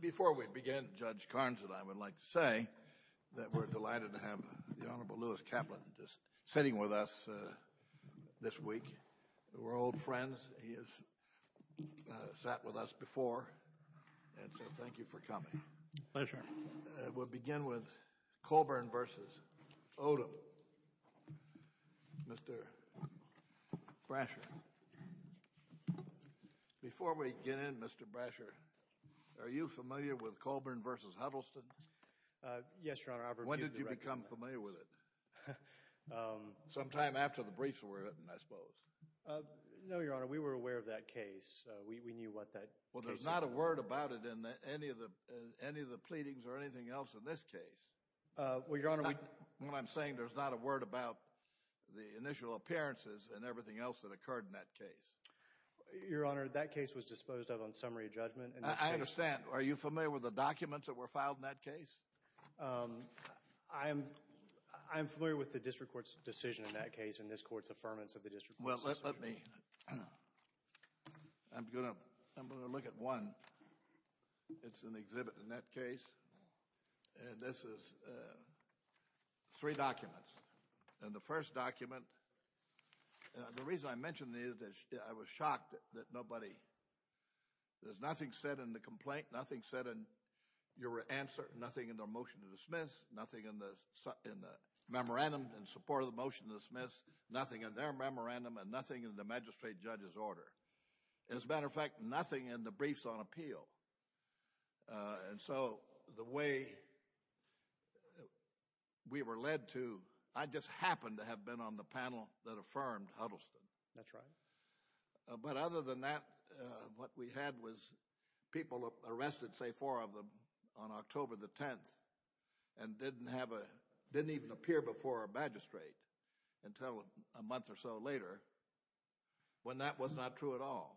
Before we begin, Judge Karns and I would like to say that we're delighted to have the Honorable Lewis Kaplan just sitting with us this week. We're old friends. He has sat with us before, and so thank you for coming. We'll begin with Colburn v. Odom. Mr. Brasher. Before we begin, Mr. Brasher, are you familiar with Colburn v. Huddleston? Yes, Your Honor. I've reviewed the record. When did you become familiar with it? Sometime after the briefs were written, I suppose. No, Your Honor. We were aware of that case. We knew what that case was. Well, there's not a word about it in any of the pleadings or anything else in this case. Well, Your Honor, we— Your Honor, that case was disposed of on summary judgment. I understand. Are you familiar with the documents that were filed in that case? I'm familiar with the district court's decision in that case and this court's affirmance of the district court's decision. Well, let me—I'm going to look at one. It's an exhibit in that case, and this is three documents. And the first document—the reason I mention these is I was shocked that nobody— there's nothing said in the complaint, nothing said in your answer, nothing in the motion to dismiss, nothing in the memorandum in support of the motion to dismiss, nothing in their memorandum, and nothing in the magistrate judge's order. As a matter of fact, nothing in the briefs on appeal. And so the way we were led to—I just happened to have been on the panel that affirmed Huddleston. That's right. But other than that, what we had was people arrested, say four of them, on October the 10th and didn't have a—didn't even appear before a magistrate until a month or so later when that was not true at all.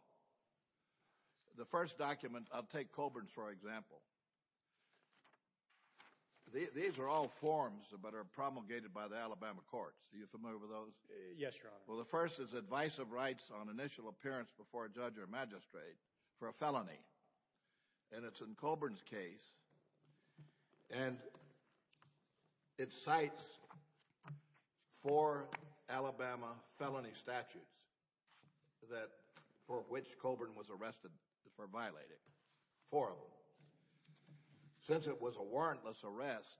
The first document—I'll take Colburn's for example. These are all forms that are promulgated by the Alabama courts. Are you familiar with those? Yes, Your Honor. Well, the first is advice of rights on initial appearance before a judge or magistrate for a felony. And it's in Colburn's case. And it cites four Alabama felony statutes that—for which Colburn was arrested for violating. Four of them. Since it was a warrantless arrest,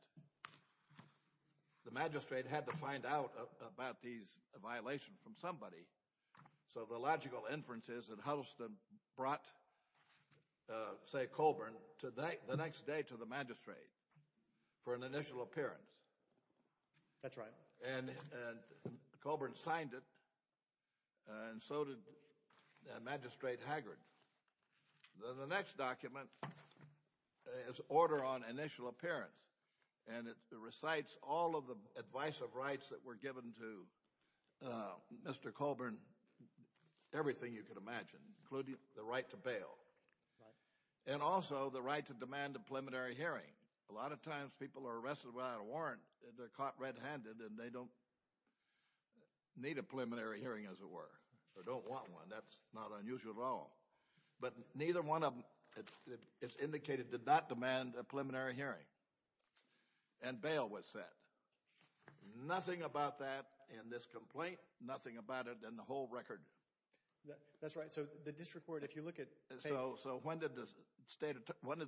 the magistrate had to find out about these violations from somebody. So the logical inference is that Huddleston brought, say, Colburn the next day to the magistrate for an initial appearance. That's right. And Colburn signed it, and so did Magistrate Haggard. The next document is order on initial appearance, and it recites all of the advice of rights that were given to Mr. Colburn. Everything you could imagine, including the right to bail. And also the right to demand a preliminary hearing. A lot of times people are arrested without a warrant. They're caught red-handed, and they don't need a preliminary hearing, as it were. They don't want one. That's not unusual at all. But neither one of them, it's indicated, did not demand a preliminary hearing. And bail was set. Nothing about that in this complaint, nothing about it in the whole record. That's right. So the district court, if you look at— So when did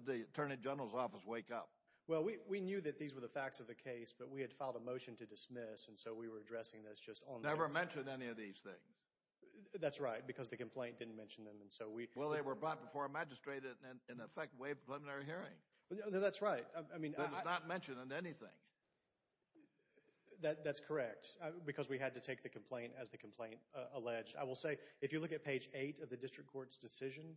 the Attorney General's office wake up? Well, we knew that these were the facts of the case, but we had filed a motion to dismiss, and so we were addressing this just on— Never mentioned any of these things. That's right, because the complaint didn't mention them, and so we— Well, they were brought before a magistrate and, in effect, waived a preliminary hearing. That's right. I mean— That was not mentioned in anything. That's correct, because we had to take the complaint as the complaint alleged. I will say, if you look at page 8 of the district court's decision,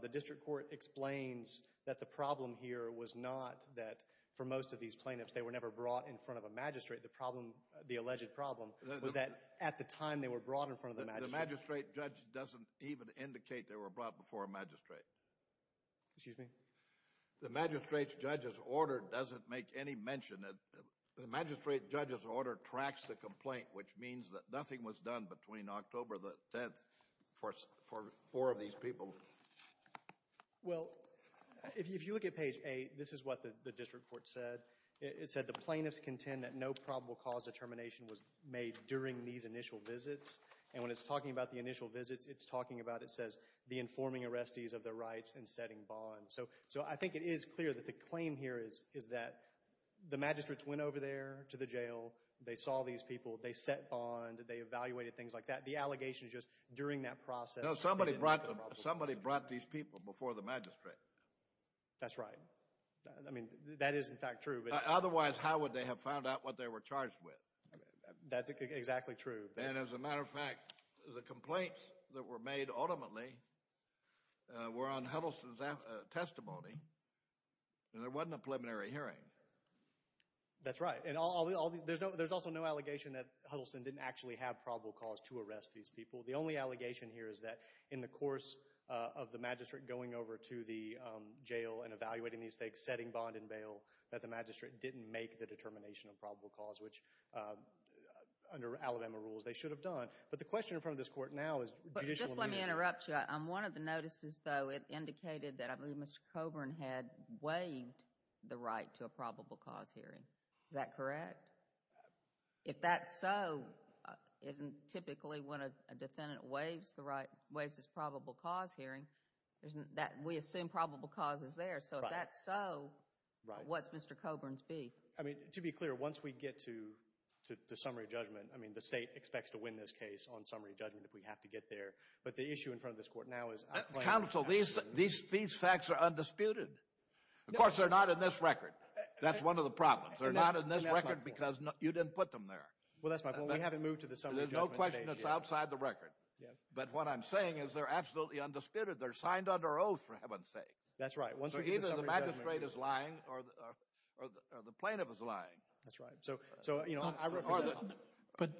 the district court explains that the problem here was not that, for most of these plaintiffs, they were never brought in front of a magistrate. The problem, the alleged problem, was that, at the time, they were brought in front of the magistrate. The magistrate judge doesn't even indicate they were brought before a magistrate. Excuse me? The magistrate judge's order doesn't make any mention. The magistrate judge's order tracks the complaint, which means that nothing was done between October the 10th for four of these people. Well, if you look at page 8, this is what the district court said. It said, The plaintiffs contend that no probable cause determination was made during these initial visits. And when it's talking about the initial visits, it's talking about, it says, the informing arrestees of their rights and setting bond. So I think it is clear that the claim here is that the magistrates went over there to the jail, they saw these people, they set bond, they evaluated things like that. The allegation is just, during that process— No, somebody brought these people before the magistrate. That's right. I mean, that is in fact true. Otherwise, how would they have found out what they were charged with? That's exactly true. And as a matter of fact, the complaints that were made ultimately were on Huddleston's testimony. There wasn't a preliminary hearing. That's right. There's also no allegation that Huddleston didn't actually have probable cause to arrest these people. The only allegation here is that in the course of the magistrate going over to the jail and evaluating these things, setting bond and bail, that the magistrate didn't make the determination of probable cause, which, under Alabama rules, they should have done. But the question in front of this Court now is— Just let me interrupt you. On one of the notices, though, it indicated that Mr. Coburn had waived the right to a probable cause hearing. Is that correct? If that's so, isn't typically when a defendant waives his probable cause hearing, we assume probable cause is there. So if that's so, what's Mr. Coburn's beef? I mean, to be clear, once we get to the summary judgment, I mean, the state expects to win this case on summary judgment if we have to get there. But the issue in front of this Court now is— Counsel, these facts are undisputed. Of course, they're not in this record. That's one of the problems. They're not in this record because you didn't put them there. Well, that's my point. We haven't moved to the summary judgment stage yet. There's no question it's outside the record. But what I'm saying is they're absolutely undisputed. They're signed under oath, for heaven's sake. That's right. So either the magistrate is lying or the plaintiff is lying. That's right. But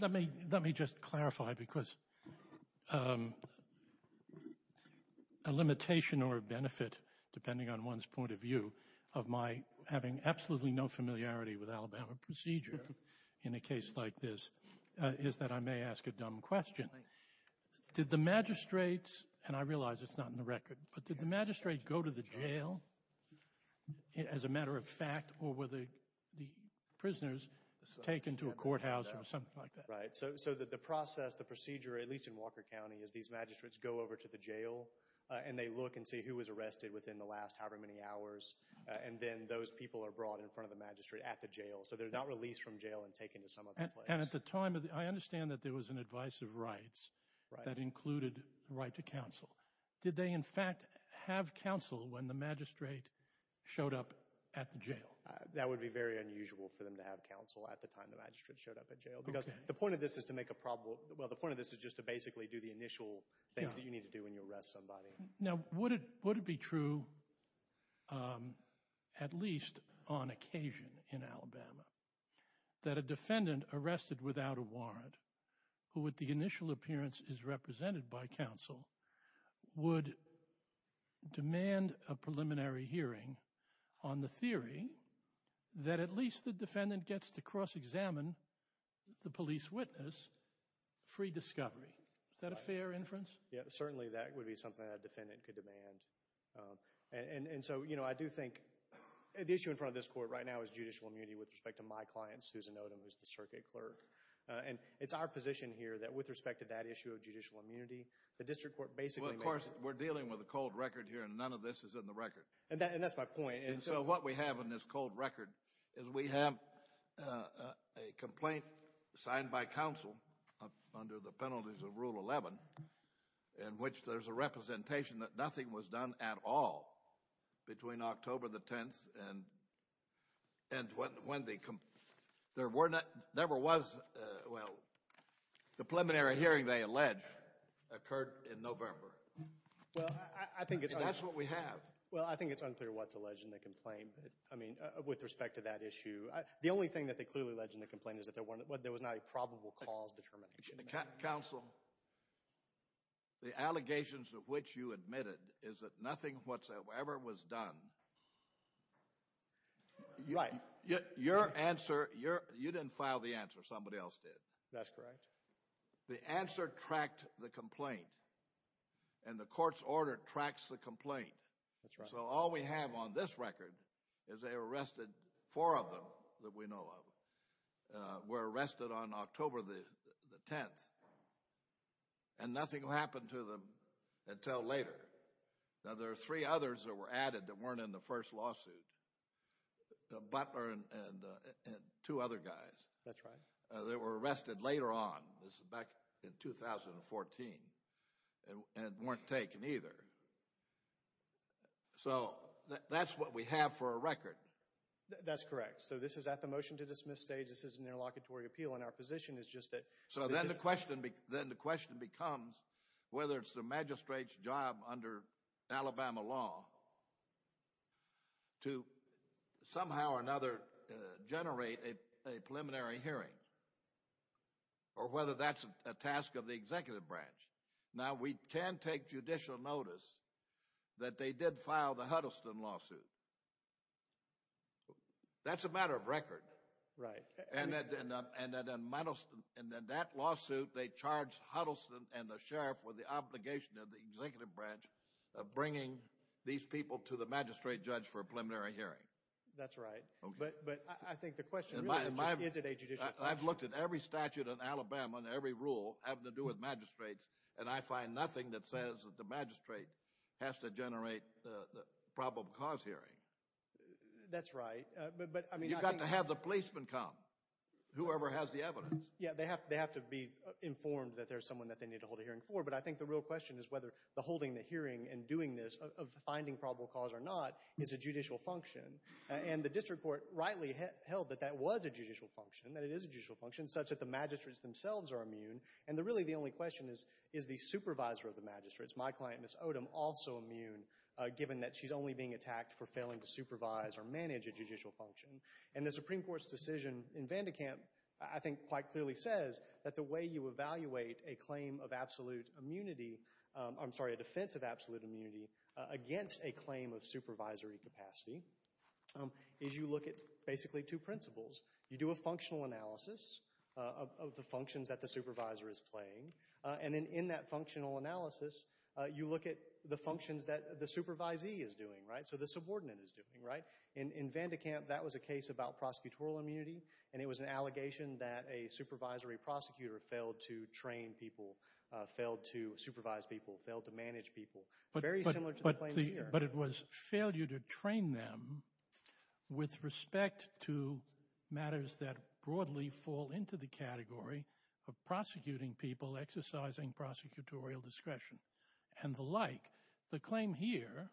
let me just clarify because a limitation or a benefit, depending on one's point of view, of my having absolutely no familiarity with Alabama procedure in a case like this is that I may ask a dumb question. Did the magistrates—and I realize it's not in the record— but did the magistrate go to the jail, as a matter of fact, or were the prisoners taken to a courthouse or something like that? Right. So the process, the procedure, at least in Walker County, is these magistrates go over to the jail, and they look and see who was arrested within the last however many hours, and then those people are brought in front of the magistrate at the jail. So they're not released from jail and taken to some other place. And at the time, I understand that there was an advice of rights that included the right to counsel. Did they, in fact, have counsel when the magistrate showed up at the jail? That would be very unusual for them to have counsel at the time the magistrate showed up at jail because the point of this is to make a probable— well, the point of this is just to basically do the initial things that you need to do when you arrest somebody. Now would it be true, at least on occasion in Alabama, that a defendant arrested without a warrant, who at the initial appearance is represented by counsel, would demand a preliminary hearing on the theory that at least the defendant gets to cross-examine the police witness free discovery? Is that a fair inference? Yeah, certainly that would be something that a defendant could demand. And so I do think the issue in front of this court right now is judicial immunity with respect to my client, Susan Odom, who's the circuit clerk. And it's our position here that with respect to that issue of judicial immunity, the district court basically— Well, of course, we're dealing with a cold record here, and none of this is in the record. And that's my point. And so what we have in this cold record is we have a complaint signed by counsel under the penalties of Rule 11 in which there's a representation that nothing was done at all between October the 10th and when the—there never was—well, the preliminary hearing, they allege, occurred in November. Well, I think it's— That's what we have. Well, I think it's unclear what's alleged in the complaint, but, I mean, with respect to that issue, the only thing that they clearly allege in the complaint is that there was not a probable cause determination. Counsel, the allegations of which you admitted is that nothing whatsoever was done. Right. Your answer—you didn't file the answer. Somebody else did. That's correct. The answer tracked the complaint, and the court's order tracks the complaint. That's right. And so all we have on this record is they arrested four of them that we know of, were arrested on October the 10th, and nothing happened to them until later. Now, there are three others that were added that weren't in the first lawsuit, Butler and two other guys. That's right. They were arrested later on—this is back in 2014—and weren't taken either. So that's what we have for a record. That's correct. So this is at the motion-to-dismiss stage. This is an interlocutory appeal, and our position is just that— So then the question becomes whether it's the magistrate's job under Alabama law to somehow or another generate a preliminary hearing, or whether that's a task of the executive branch. Now, we can take judicial notice that they did file the Huddleston lawsuit. That's a matter of record. Right. And in that lawsuit, they charged Huddleston and the sheriff with the obligation of the executive branch of bringing these people to the magistrate judge for a preliminary hearing. That's right. But I think the question really is, is it a judicial function? I've looked at every statute in Alabama and every rule having to do with magistrates, and I find nothing that says that the magistrate has to generate the probable cause hearing. That's right. You've got to have the policeman come, whoever has the evidence. Yeah, they have to be informed that there's someone that they need to hold a hearing for. But I think the real question is whether the holding the hearing and doing this of finding probable cause or not is a judicial function. And the district court rightly held that that was a judicial function, that it is a judicial function, such that the magistrates themselves are immune. And really the only question is, is the supervisor of the magistrates, my client, Ms. Odom, also immune, given that she's only being attacked for failing to supervise or manage a judicial function? And the Supreme Court's decision in Vandekamp I think quite clearly says that the way you evaluate a claim of absolute immunity, I'm sorry, a defense of absolute immunity against a claim of supervisory capacity is you look at basically two principles. You do a functional analysis of the functions that the supervisor is playing, and then in that functional analysis, you look at the functions that the supervisee is doing, right? So the subordinate is doing, right? In Vandekamp, that was a case about prosecutorial immunity, and it was an allegation that a supervisory prosecutor failed to train people, failed to supervise people, failed to manage people. Very similar to the claims here. But it was failure to train them with respect to matters that broadly fall into the category of prosecuting people, exercising prosecutorial discretion, and the like. The claim here,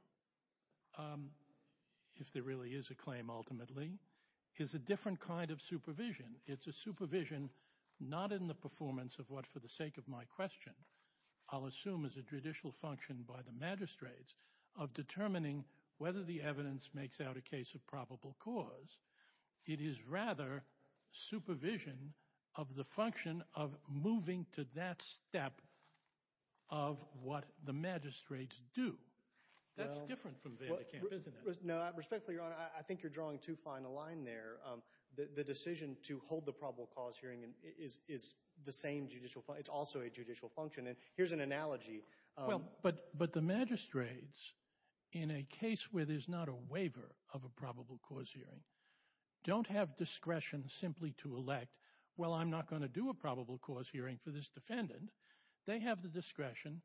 if there really is a claim ultimately, is a different kind of supervision. It's a supervision not in the performance of what, for the sake of my question, I'll assume is a judicial function by the magistrates of determining whether the evidence makes out a case of probable cause. It is rather supervision of the function of moving to that step of what the magistrates do. That's different from Vandekamp, isn't it? No, respectfully, Your Honor, I think you're drawing too fine a line there. The decision to hold the probable cause hearing is the same judicial function. It's also a judicial function, and here's an analogy. But the magistrates, in a case where there's not a waiver of a probable cause hearing, don't have discretion simply to elect, well, I'm not going to do a probable cause hearing for this defendant. They have the discretion,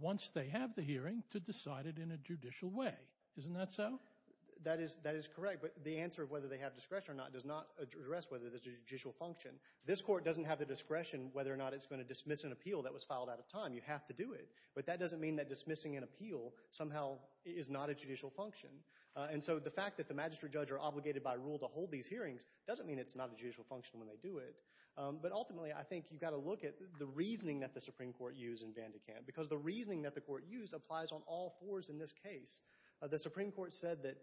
once they have the hearing, to decide it in a judicial way. Isn't that so? That is correct, but the answer of whether they have discretion or not does not address whether there's a judicial function. This court doesn't have the discretion whether or not it's going to dismiss an appeal that was filed out of time. You have to do it. But that doesn't mean that dismissing an appeal somehow is not a judicial function. And so the fact that the magistrate judge are obligated by rule to hold these hearings doesn't mean it's not a judicial function when they do it. But ultimately, I think you've got to look at the reasoning that the Supreme Court used in Vandekamp, because the reasoning that the Court used applies on all fours in this case. The Supreme Court said that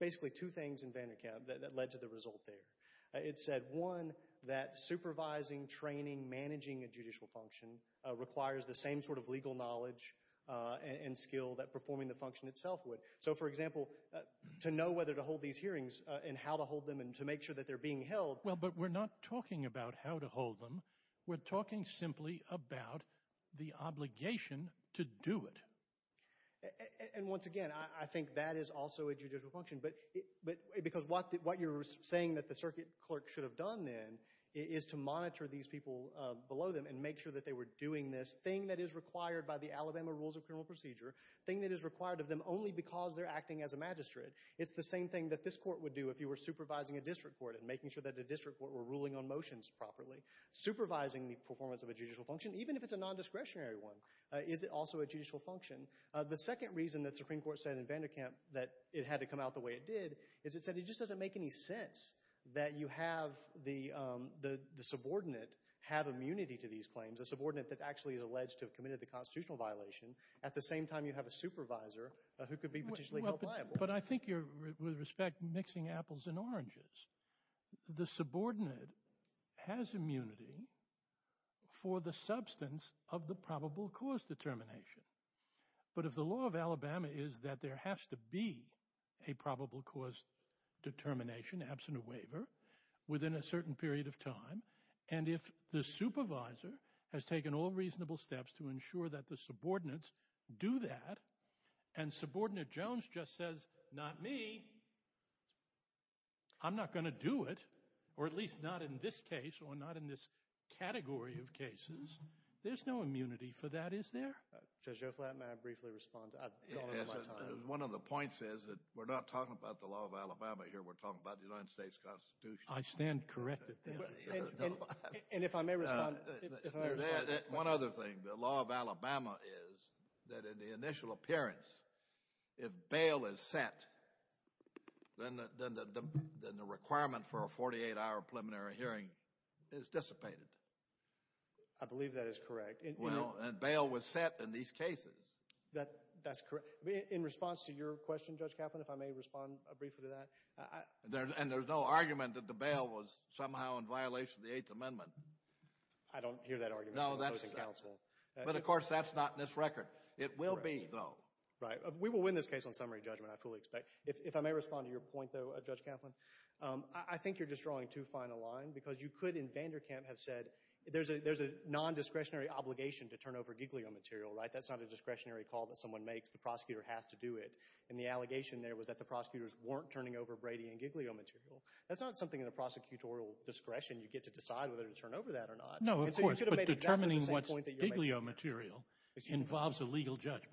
basically two things in Vandekamp that led to the result there. It said, one, that supervising, training, managing a judicial function requires the same sort of legal knowledge and skill that performing the function itself would. So, for example, to know whether to hold these hearings and how to hold them and to make sure that they're being held. Well, but we're not talking about how to hold them. We're talking simply about the obligation to do it. And once again, I think that is also a judicial function, because what you're saying that the circuit clerk should have done then is to monitor these people below them and make sure that they were doing this thing that is required by the Alabama Rules of Criminal Procedure, thing that is required of them only because they're acting as a magistrate. It's the same thing that this court would do if you were supervising a district court and making sure that the district court were ruling on motions properly. Supervising the performance of a judicial function, even if it's a nondiscretionary one, is also a judicial function. The second reason that the Supreme Court said in Vanderkamp that it had to come out the way it did is it said it just doesn't make any sense that you have the subordinate have immunity to these claims, a subordinate that actually is alleged to have committed the constitutional violation, at the same time you have a supervisor who could be potentially held liable. But I think you're, with respect, mixing apples and oranges. The subordinate has immunity for the substance of the probable cause determination. But if the law of Alabama is that there has to be a probable cause determination, absent a waiver, within a certain period of time, and if the supervisor has taken all reasonable steps to ensure that the subordinates do that, and subordinate Jones just says, not me, I'm not going to do it, or at least not in this case or not in this category of cases, there's no immunity for that, is there? Judge Joe Flatton, may I briefly respond? One of the points is that we're not talking about the law of Alabama here, we're talking about the United States Constitution. I stand corrected. And if I may respond? One other thing, the law of Alabama is that in the initial appearance, if bail is set, then the requirement for a 48-hour preliminary hearing is dissipated. I believe that is correct. Well, and bail was set in these cases. That's correct. In response to your question, Judge Kaplan, if I may respond briefly to that? And there's no argument that the bail was somehow in violation of the Eighth Amendment. I don't hear that argument. No, that's the counsel. But, of course, that's not in this record. It will be, though. Right. We will win this case on summary judgment, I fully expect. If I may respond to your point, though, Judge Kaplan, I think you're just drawing too fine a line because you could, in Vanderkamp, have said, there's a non-discretionary obligation to turn over Giglio material, right? That's not a discretionary call that someone makes. The prosecutor has to do it. And the allegation there was that the prosecutors weren't turning over Brady and Giglio material. That's not something in a prosecutorial discretion you get to decide whether to turn over that or not. No, of course. But determining what's Giglio material involves a legal judgment.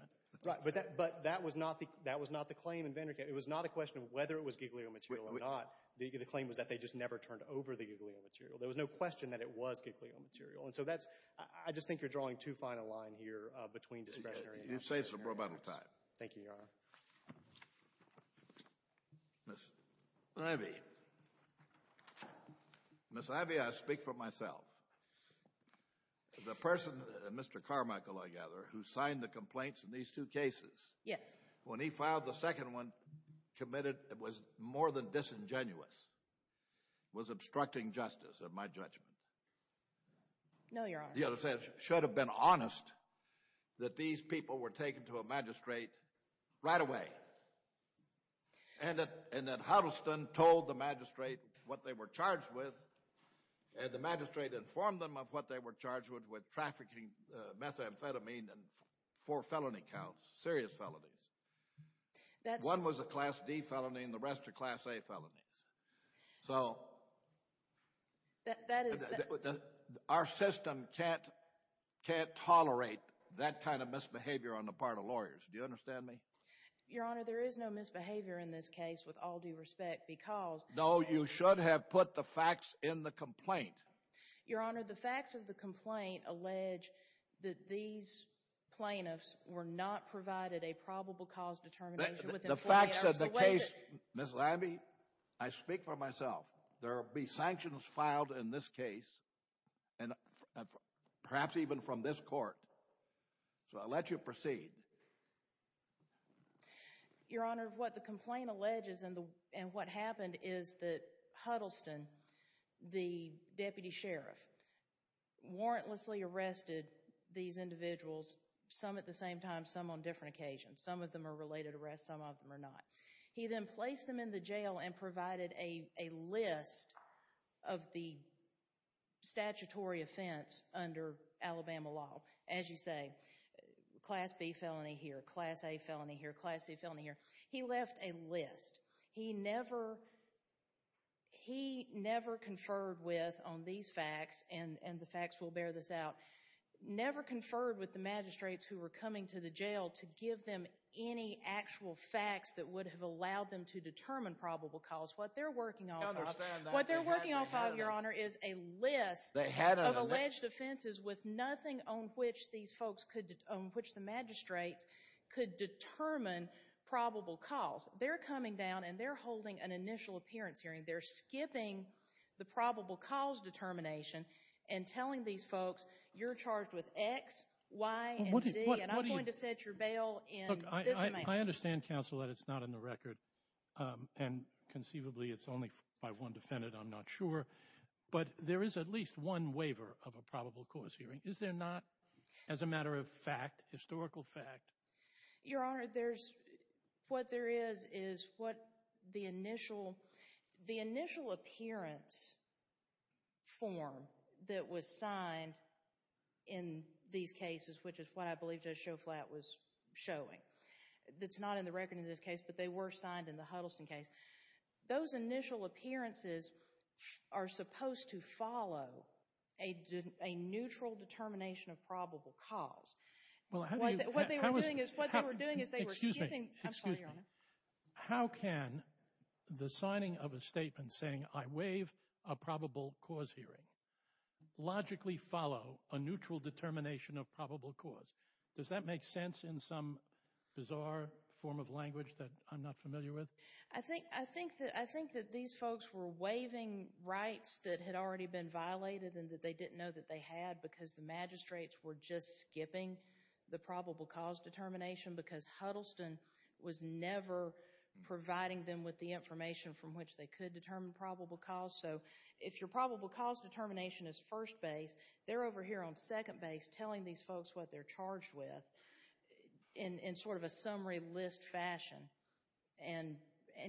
Right. But that was not the claim in Vanderkamp. It was not a question of whether it was Giglio material or not. The claim was that they just never turned over the Giglio material. There was no question that it was Giglio material. And so that's – I just think you're drawing too fine a line here between discretionary and non-discretionary. Thank you, Your Honor. Ms. Ivey. Ms. Ivey, I speak for myself. The person, Mr. Carmichael, I gather, who signed the complaints in these two cases. Yes. When he filed the second one, committed – it was more than disingenuous. It was obstructing justice of my judgment. No, Your Honor. The other side should have been honest that these people were taken to a magistrate right away. And that Huddleston told the magistrate what they were charged with, and the magistrate informed them of what they were charged with, with trafficking methamphetamine and four felony counts, serious felonies. That's – One was a Class D felony and the rest are Class A felonies. So – That is – Our system can't tolerate that kind of misbehavior on the part of lawyers. Do you understand me? Your Honor, there is no misbehavior in this case, with all due respect, because – No, you should have put the facts in the complaint. Your Honor, the facts of the complaint allege that these plaintiffs were not provided a probable cause determination within 40 hours. The facts of the case – Ms. Ivey, I speak for myself. There will be sanctions filed in this case, and perhaps even from this court. So I'll let you proceed. Your Honor, what the complaint alleges and what happened is that Huddleston, the deputy sheriff, warrantlessly arrested these individuals, some at the same time, some on different occasions. Some of them are related arrests, some of them are not. He then placed them in the jail and provided a list of the statutory offense under Alabama law. As you say, Class B felony here, Class A felony here, Class C felony here. He left a list. He never – He never conferred with, on these facts, and the facts will bear this out, never conferred with the magistrates who were coming to the jail to give them any actual facts that would have allowed them to determine probable cause. What they're working off of – No, there's – What they're working off of, Your Honor, is a list of alleged offenses with nothing on which these folks could – on which the magistrates could determine probable cause. They're coming down and they're holding an initial appearance hearing. They're skipping the probable cause determination and telling these folks, you're charged with X, Y, and Z, and I'm going to set your bail in this manner. Look, I understand, counsel, that it's not in the record, and conceivably it's only by one defendant. I'm not sure. But there is at least one waiver of a probable cause hearing, is there not, as a matter of fact, historical fact? Your Honor, there's – what there is is what the initial appearance form that was signed in these cases, which is what I believe Judge Schoflat was showing. It's not in the record in this case, but they were signed in the Huddleston case. Those initial appearances are supposed to follow a neutral determination of probable cause. Well, how do you – how was – What they were doing is they were skipping – Excuse me. Excuse me. How can the signing of a statement saying, I waive a probable cause hearing, logically follow a neutral determination of probable cause? Does that make sense in some bizarre form of language that I'm not familiar with? I think that these folks were waiving rights that had already been violated and that they didn't know that they had because the magistrates were just skipping the probable cause determination because Huddleston was never providing them with the information from which they could determine probable cause. So if your probable cause determination is first base, they're over here on second base telling these folks what they're charged with in sort of a summary list fashion. And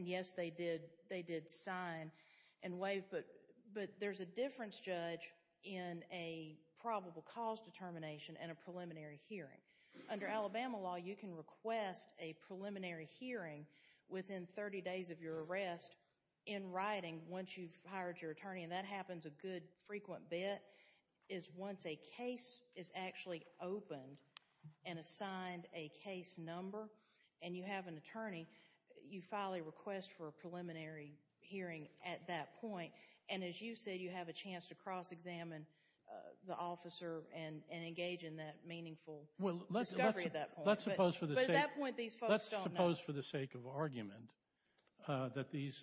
yes, they did sign and waive, but there's a difference, Judge, in a probable cause determination and a preliminary hearing. Under Alabama law, you can request a preliminary hearing within 30 days of your arrest in writing once you've hired your attorney, and that happens a good frequent bit, is once a case is actually opened and assigned a case number and you have an attorney, you file a request for a preliminary hearing at that point. And as you said, you have a chance to cross-examine the officer and engage in that meaningful discovery at that point. But at that point, these folks don't know. Let's suppose for the sake of argument that these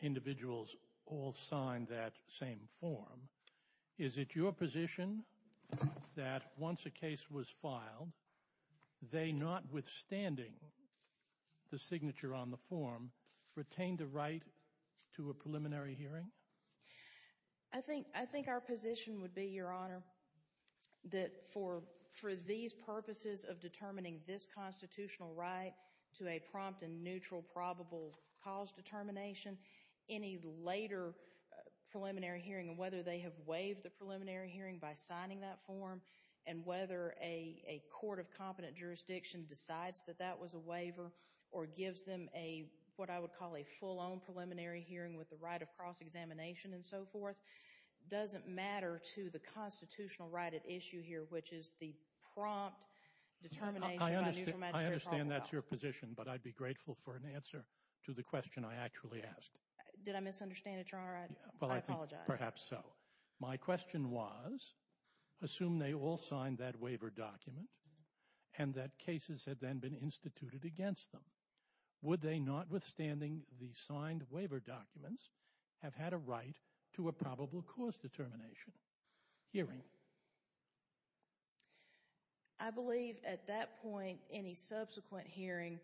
individuals all signed that same form. Is it your position that once a case was filed, they, notwithstanding the signature on the form, retained the right to a preliminary hearing? I think our position would be, Your Honor, that for these purposes of determining this constitutional right to a prompt and neutral probable cause determination, any later preliminary hearing and whether they have waived the preliminary hearing by signing that form and whether a court of competent jurisdiction decides that that was a waiver or gives them what I would call a full-on preliminary hearing with the right of cross-examination and so forth, doesn't matter to the constitutional right at issue here, which is the prompt determination by neutral magisterial probable cause. Again, that's your position, but I'd be grateful for an answer to the question I actually asked. Did I misunderstand it, Your Honor? I apologize. Perhaps so. My question was, assume they all signed that waiver document and that cases had then been instituted against them. Would they, notwithstanding the signed waiver documents, have had a right to a probable cause determination hearing? I believe at that point any subsequent hearing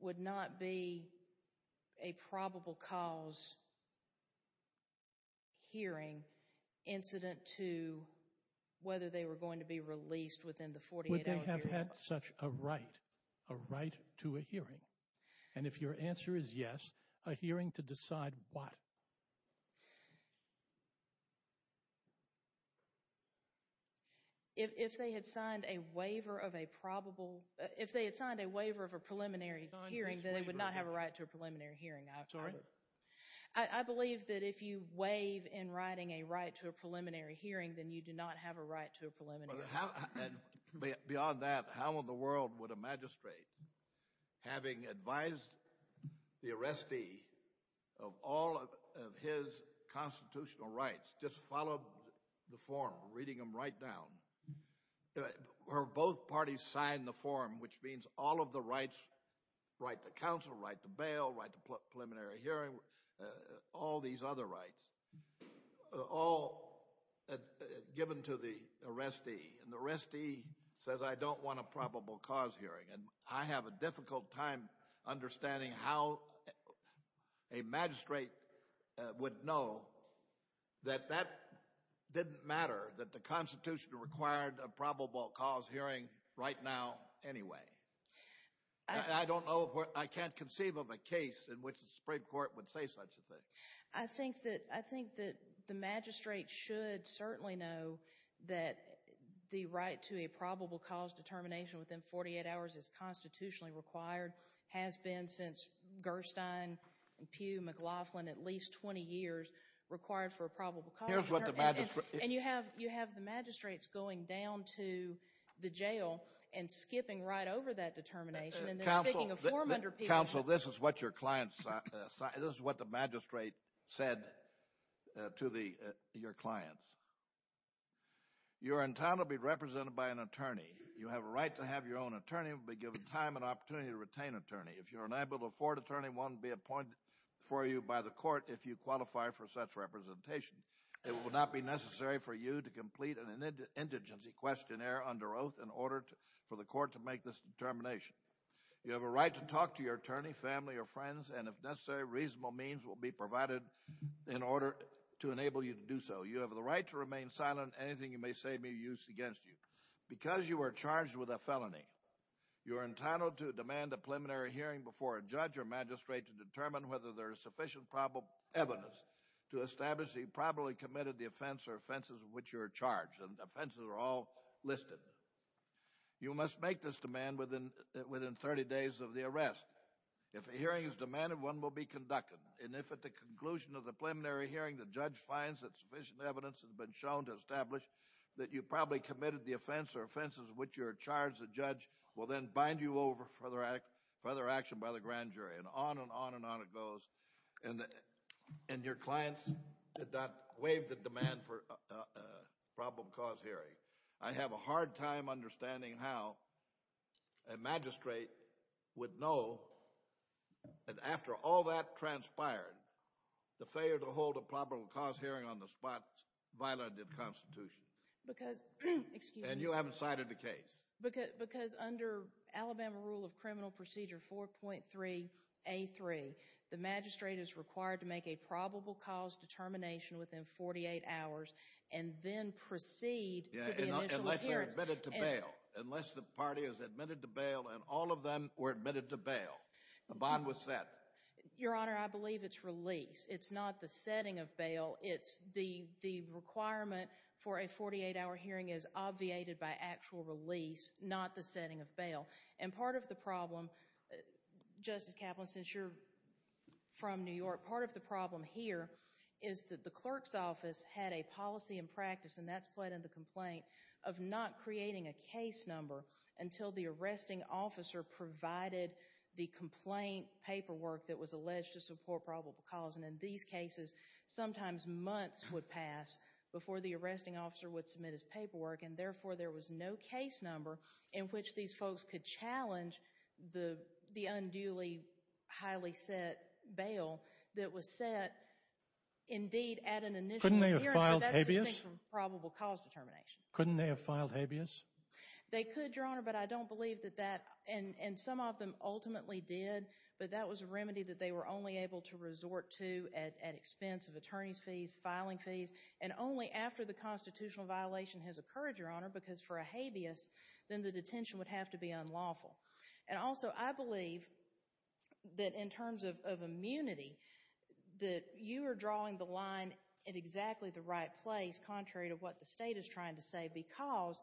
would not be a probable cause hearing incident to whether they were going to be released within the 48-hour period. Would they have had such a right, a right to a hearing? And if your answer is yes, a hearing to decide what? If they had signed a waiver of a preliminary hearing, then they would not have a right to a preliminary hearing. I believe that if you waive in writing a right to a preliminary hearing, then you do not have a right to a preliminary hearing. Beyond that, how in the world would a magistrate, having advised the arrestee of all of his constitutional rights, just follow the form, reading them right down, where both parties sign the form, which means all of the rights, right to counsel, right to bail, right to preliminary hearing, all these other rights, all given to the arrestee. And the arrestee says, I don't want a probable cause hearing. And I have a difficult time understanding how a magistrate would know that that didn't matter, that the Constitution required a probable cause hearing right now anyway. I don't know, I can't conceive of a case in which the Supreme Court would say such a thing. I think that the magistrate should certainly know that the right to a probable cause determination within 48 hours is constitutionally required, has been since Gerstein, Pugh, McLaughlin, at least 20 years, required for a probable cause hearing. And you have the magistrates going down to the jail and skipping right over that determination. Counsel, this is what the magistrate said to your clients. You are entitled to be represented by an attorney. You have a right to have your own attorney and will be given time and opportunity to retain an attorney. If you are unable to afford an attorney, one will be appointed for you by the court if you qualify for such representation. It will not be necessary for you to complete an indigency questionnaire under oath in order for the court to make this determination. You have a right to talk to your attorney, family, or friends, and if necessary, reasonable means will be provided in order to enable you to do so. You have the right to remain silent on anything you may say may be used against you. Because you are charged with a felony, you are entitled to demand a preliminary hearing before a judge or magistrate to determine whether there is sufficient evidence to establish that you probably committed the offense or offenses of which you are charged. And offenses are all listed. You must make this demand within 30 days of the arrest. If a hearing is demanded, one will be conducted. And if at the conclusion of the preliminary hearing the judge finds that sufficient evidence has been shown to establish that you probably committed the offense or offenses of which you are charged, the judge will then bind you over for further action by the grand jury. And on and on and on it goes. And your clients did not waive the demand for a problem cause hearing. I have a hard time understanding how a magistrate would know that after all that transpired, the failure to hold a problem cause hearing on the spot violated the Constitution. And you haven't cited the case. Because under Alabama Rule of Criminal Procedure 4.3A3, the magistrate is required to make a probable cause determination within 48 hours and then proceed to the initial appearance. Unless they're admitted to bail. Unless the party is admitted to bail and all of them were admitted to bail. The bond was set. Your Honor, I believe it's release. It's not the setting of bail. It's the requirement for a 48-hour hearing is obviated by actual release, not the setting of bail. And part of the problem, Justice Kaplan, since you're from New York, part of the problem here is that the clerk's office had a policy and practice, and that's played in the complaint, of not creating a case number until the arresting officer provided the complaint paperwork that was alleged to support probable cause. And in these cases, sometimes months would pass before the arresting officer would submit his paperwork, and therefore there was no case number in which these folks could challenge the unduly highly set bail that was set indeed at an initial appearance. Couldn't they have filed habeas? But that's distinct from probable cause determination. Couldn't they have filed habeas? They could, Your Honor, but I don't believe that that, and some of them ultimately did, but that was a remedy that they were only able to resort to at expense of attorney's fees, filing fees, and only after the constitutional violation has occurred, Your Honor, because for a habeas, then the detention would have to be unlawful. And also, I believe that in terms of immunity, that you are drawing the line at exactly the right place, contrary to what the state is trying to say, because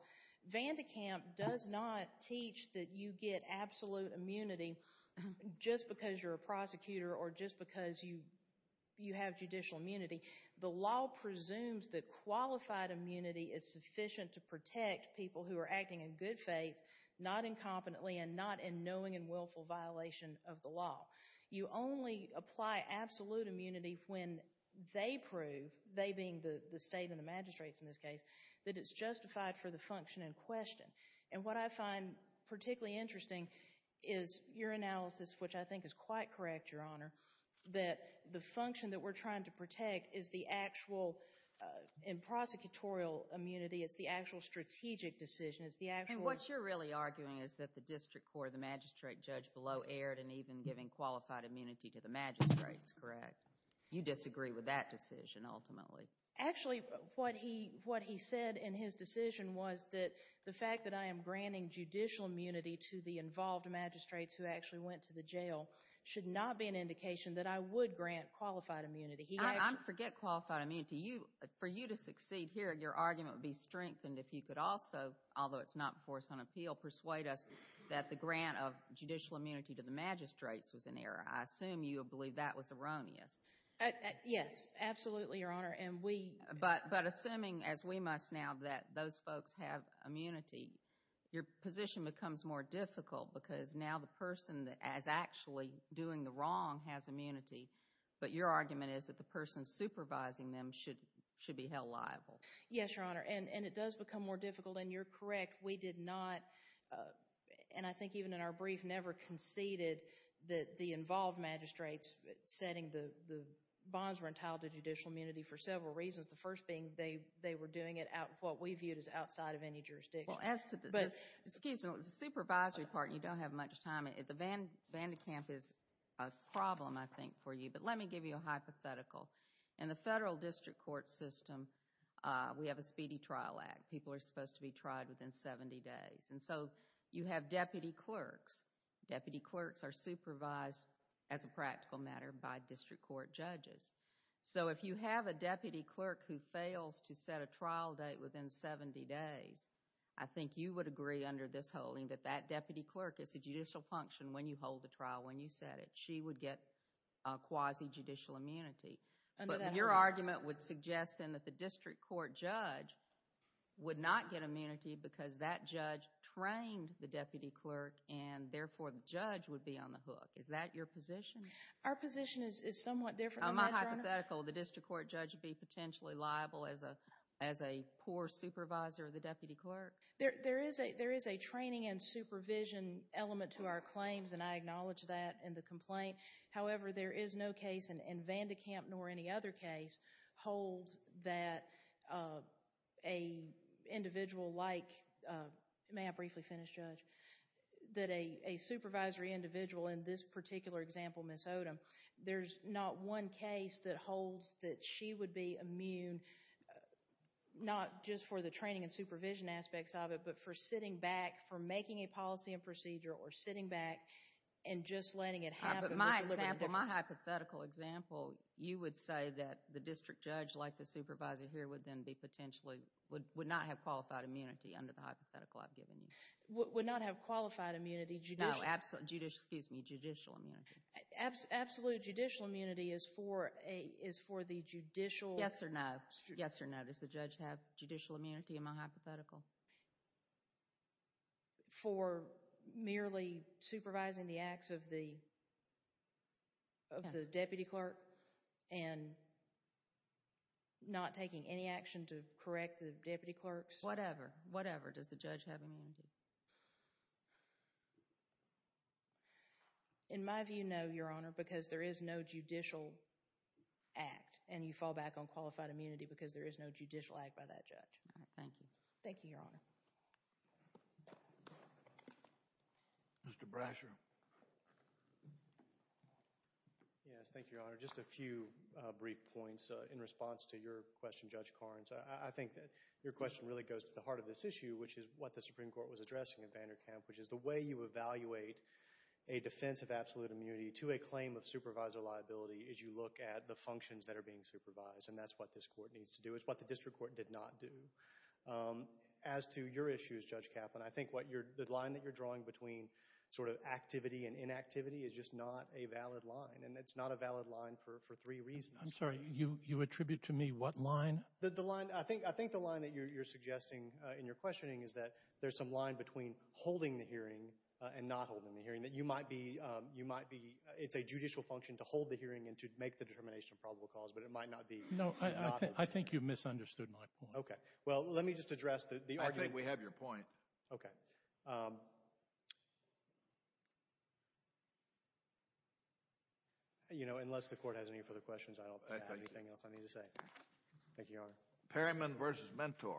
Vandekamp does not teach that you get absolute immunity just because you're a prosecutor or just because you have judicial immunity. The law presumes that qualified immunity is sufficient to protect people who are acting in good faith, not incompetently and not in knowing and willful violation of the law. You only apply absolute immunity when they prove, they being the state and the magistrates in this case, that it's justified for the function in question. And what I find particularly interesting is your analysis, which I think is quite correct, Your Honor, that the function that we're trying to protect is the actual in prosecutorial immunity. It's the actual strategic decision. It's the actual— And what you're really arguing is that the district court or the magistrate judge below erred in even giving qualified immunity to the magistrates, correct? You disagree with that decision, ultimately. Actually, what he said in his decision was that the fact that I am granting judicial immunity to the involved magistrates who actually went to the jail should not be an indication that I would grant qualified immunity. I forget qualified immunity. For you to succeed here, your argument would be strengthened if you could also, although it's not before us on appeal, persuade us that the grant of judicial immunity to the magistrates was an error. I assume you would believe that was erroneous. Yes, absolutely, Your Honor, and we— But assuming, as we must now, that those folks have immunity, your position becomes more difficult because now the person that is actually doing the wrong has immunity, but your argument is that the person supervising them should be held liable. Yes, Your Honor, and it does become more difficult, and you're correct. We did not, and I think even in our brief, never conceded that the involved magistrates setting the bonds were entitled to judicial immunity for several reasons, the first being they were doing it at what we viewed as outside of any jurisdiction. Well, as to the— But— Excuse me. The supervisory part, you don't have much time. The Vandekamp is a problem, I think, for you, but let me give you a hypothetical. In the federal district court system, we have a speedy trial act. People are supposed to be tried within 70 days, and so you have deputy clerks. Deputy clerks are supervised, as a practical matter, by district court judges. So if you have a deputy clerk who fails to set a trial date within 70 days, I think you would agree under this holding that that deputy clerk is a judicial function when you hold the trial, when you set it. She would get quasi-judicial immunity. But your argument would suggest, then, that the district court judge would not get immunity because that judge trained the deputy clerk and, therefore, the judge would be on the hook. Is that your position? Our position is somewhat different than that, Your Honor. On my hypothetical, the district court judge would be potentially liable as a poor supervisor of the deputy clerk? There is a training and supervision element to our claims, and I acknowledge that in the complaint. However, there is no case in Vandekamp, nor any other case, holds that an individual like, may I briefly finish, Judge, that a supervisory individual, in this particular example, Ms. Odom, there's not one case that holds that she would be immune, not just for the training and supervision aspects of it, but for sitting back, for making a policy and procedure, or sitting back and just letting it happen. But my hypothetical example, you would say that the district judge, like the supervisor here, would then be potentially, would not have qualified immunity under the hypothetical I've given you. Would not have qualified immunity? No, judicial immunity. Absolute judicial immunity is for the judicial... Yes or no. Yes or no. Does the judge have judicial immunity in my hypothetical? For merely supervising the acts of the deputy clerk and not taking any action to correct the deputy clerk's... Whatever. Whatever. Does the judge have immunity? In my view, no, Your Honor, because there is no judicial act, and you fall back on qualified immunity because there is no judicial act by that judge. All right, thank you. Thank you, Your Honor. Mr. Brasher. Yes, thank you, Your Honor. Just a few brief points in response to your question, Judge Karnes. I think that your question really goes to the heart of this issue, which is what the Supreme Court was addressing in Vanderkamp, which is the way you evaluate a defense of absolute immunity to a claim of supervisor liability is you look at the functions that are being supervised, and that's what this court needs to do. It's what the district court did not do. As to your issues, Judge Kaplan, I think the line that you're drawing between sort of activity and inactivity is just not a valid line, and it's not a valid line for three reasons. I'm sorry. You attribute to me what line? I think the line that you're suggesting in your questioning is that there's some line between holding the hearing and not holding the hearing, that you might be – it's a judicial function to hold the hearing and to make the determination of probable cause, but it might not be to not hold the hearing. No, I think you've misunderstood my point. Okay. Well, let me just address the argument. I think we have your point. Okay. Unless the court has any further questions, I don't have anything else I need to say. Thank you, Your Honor. Perryman v. Mentor.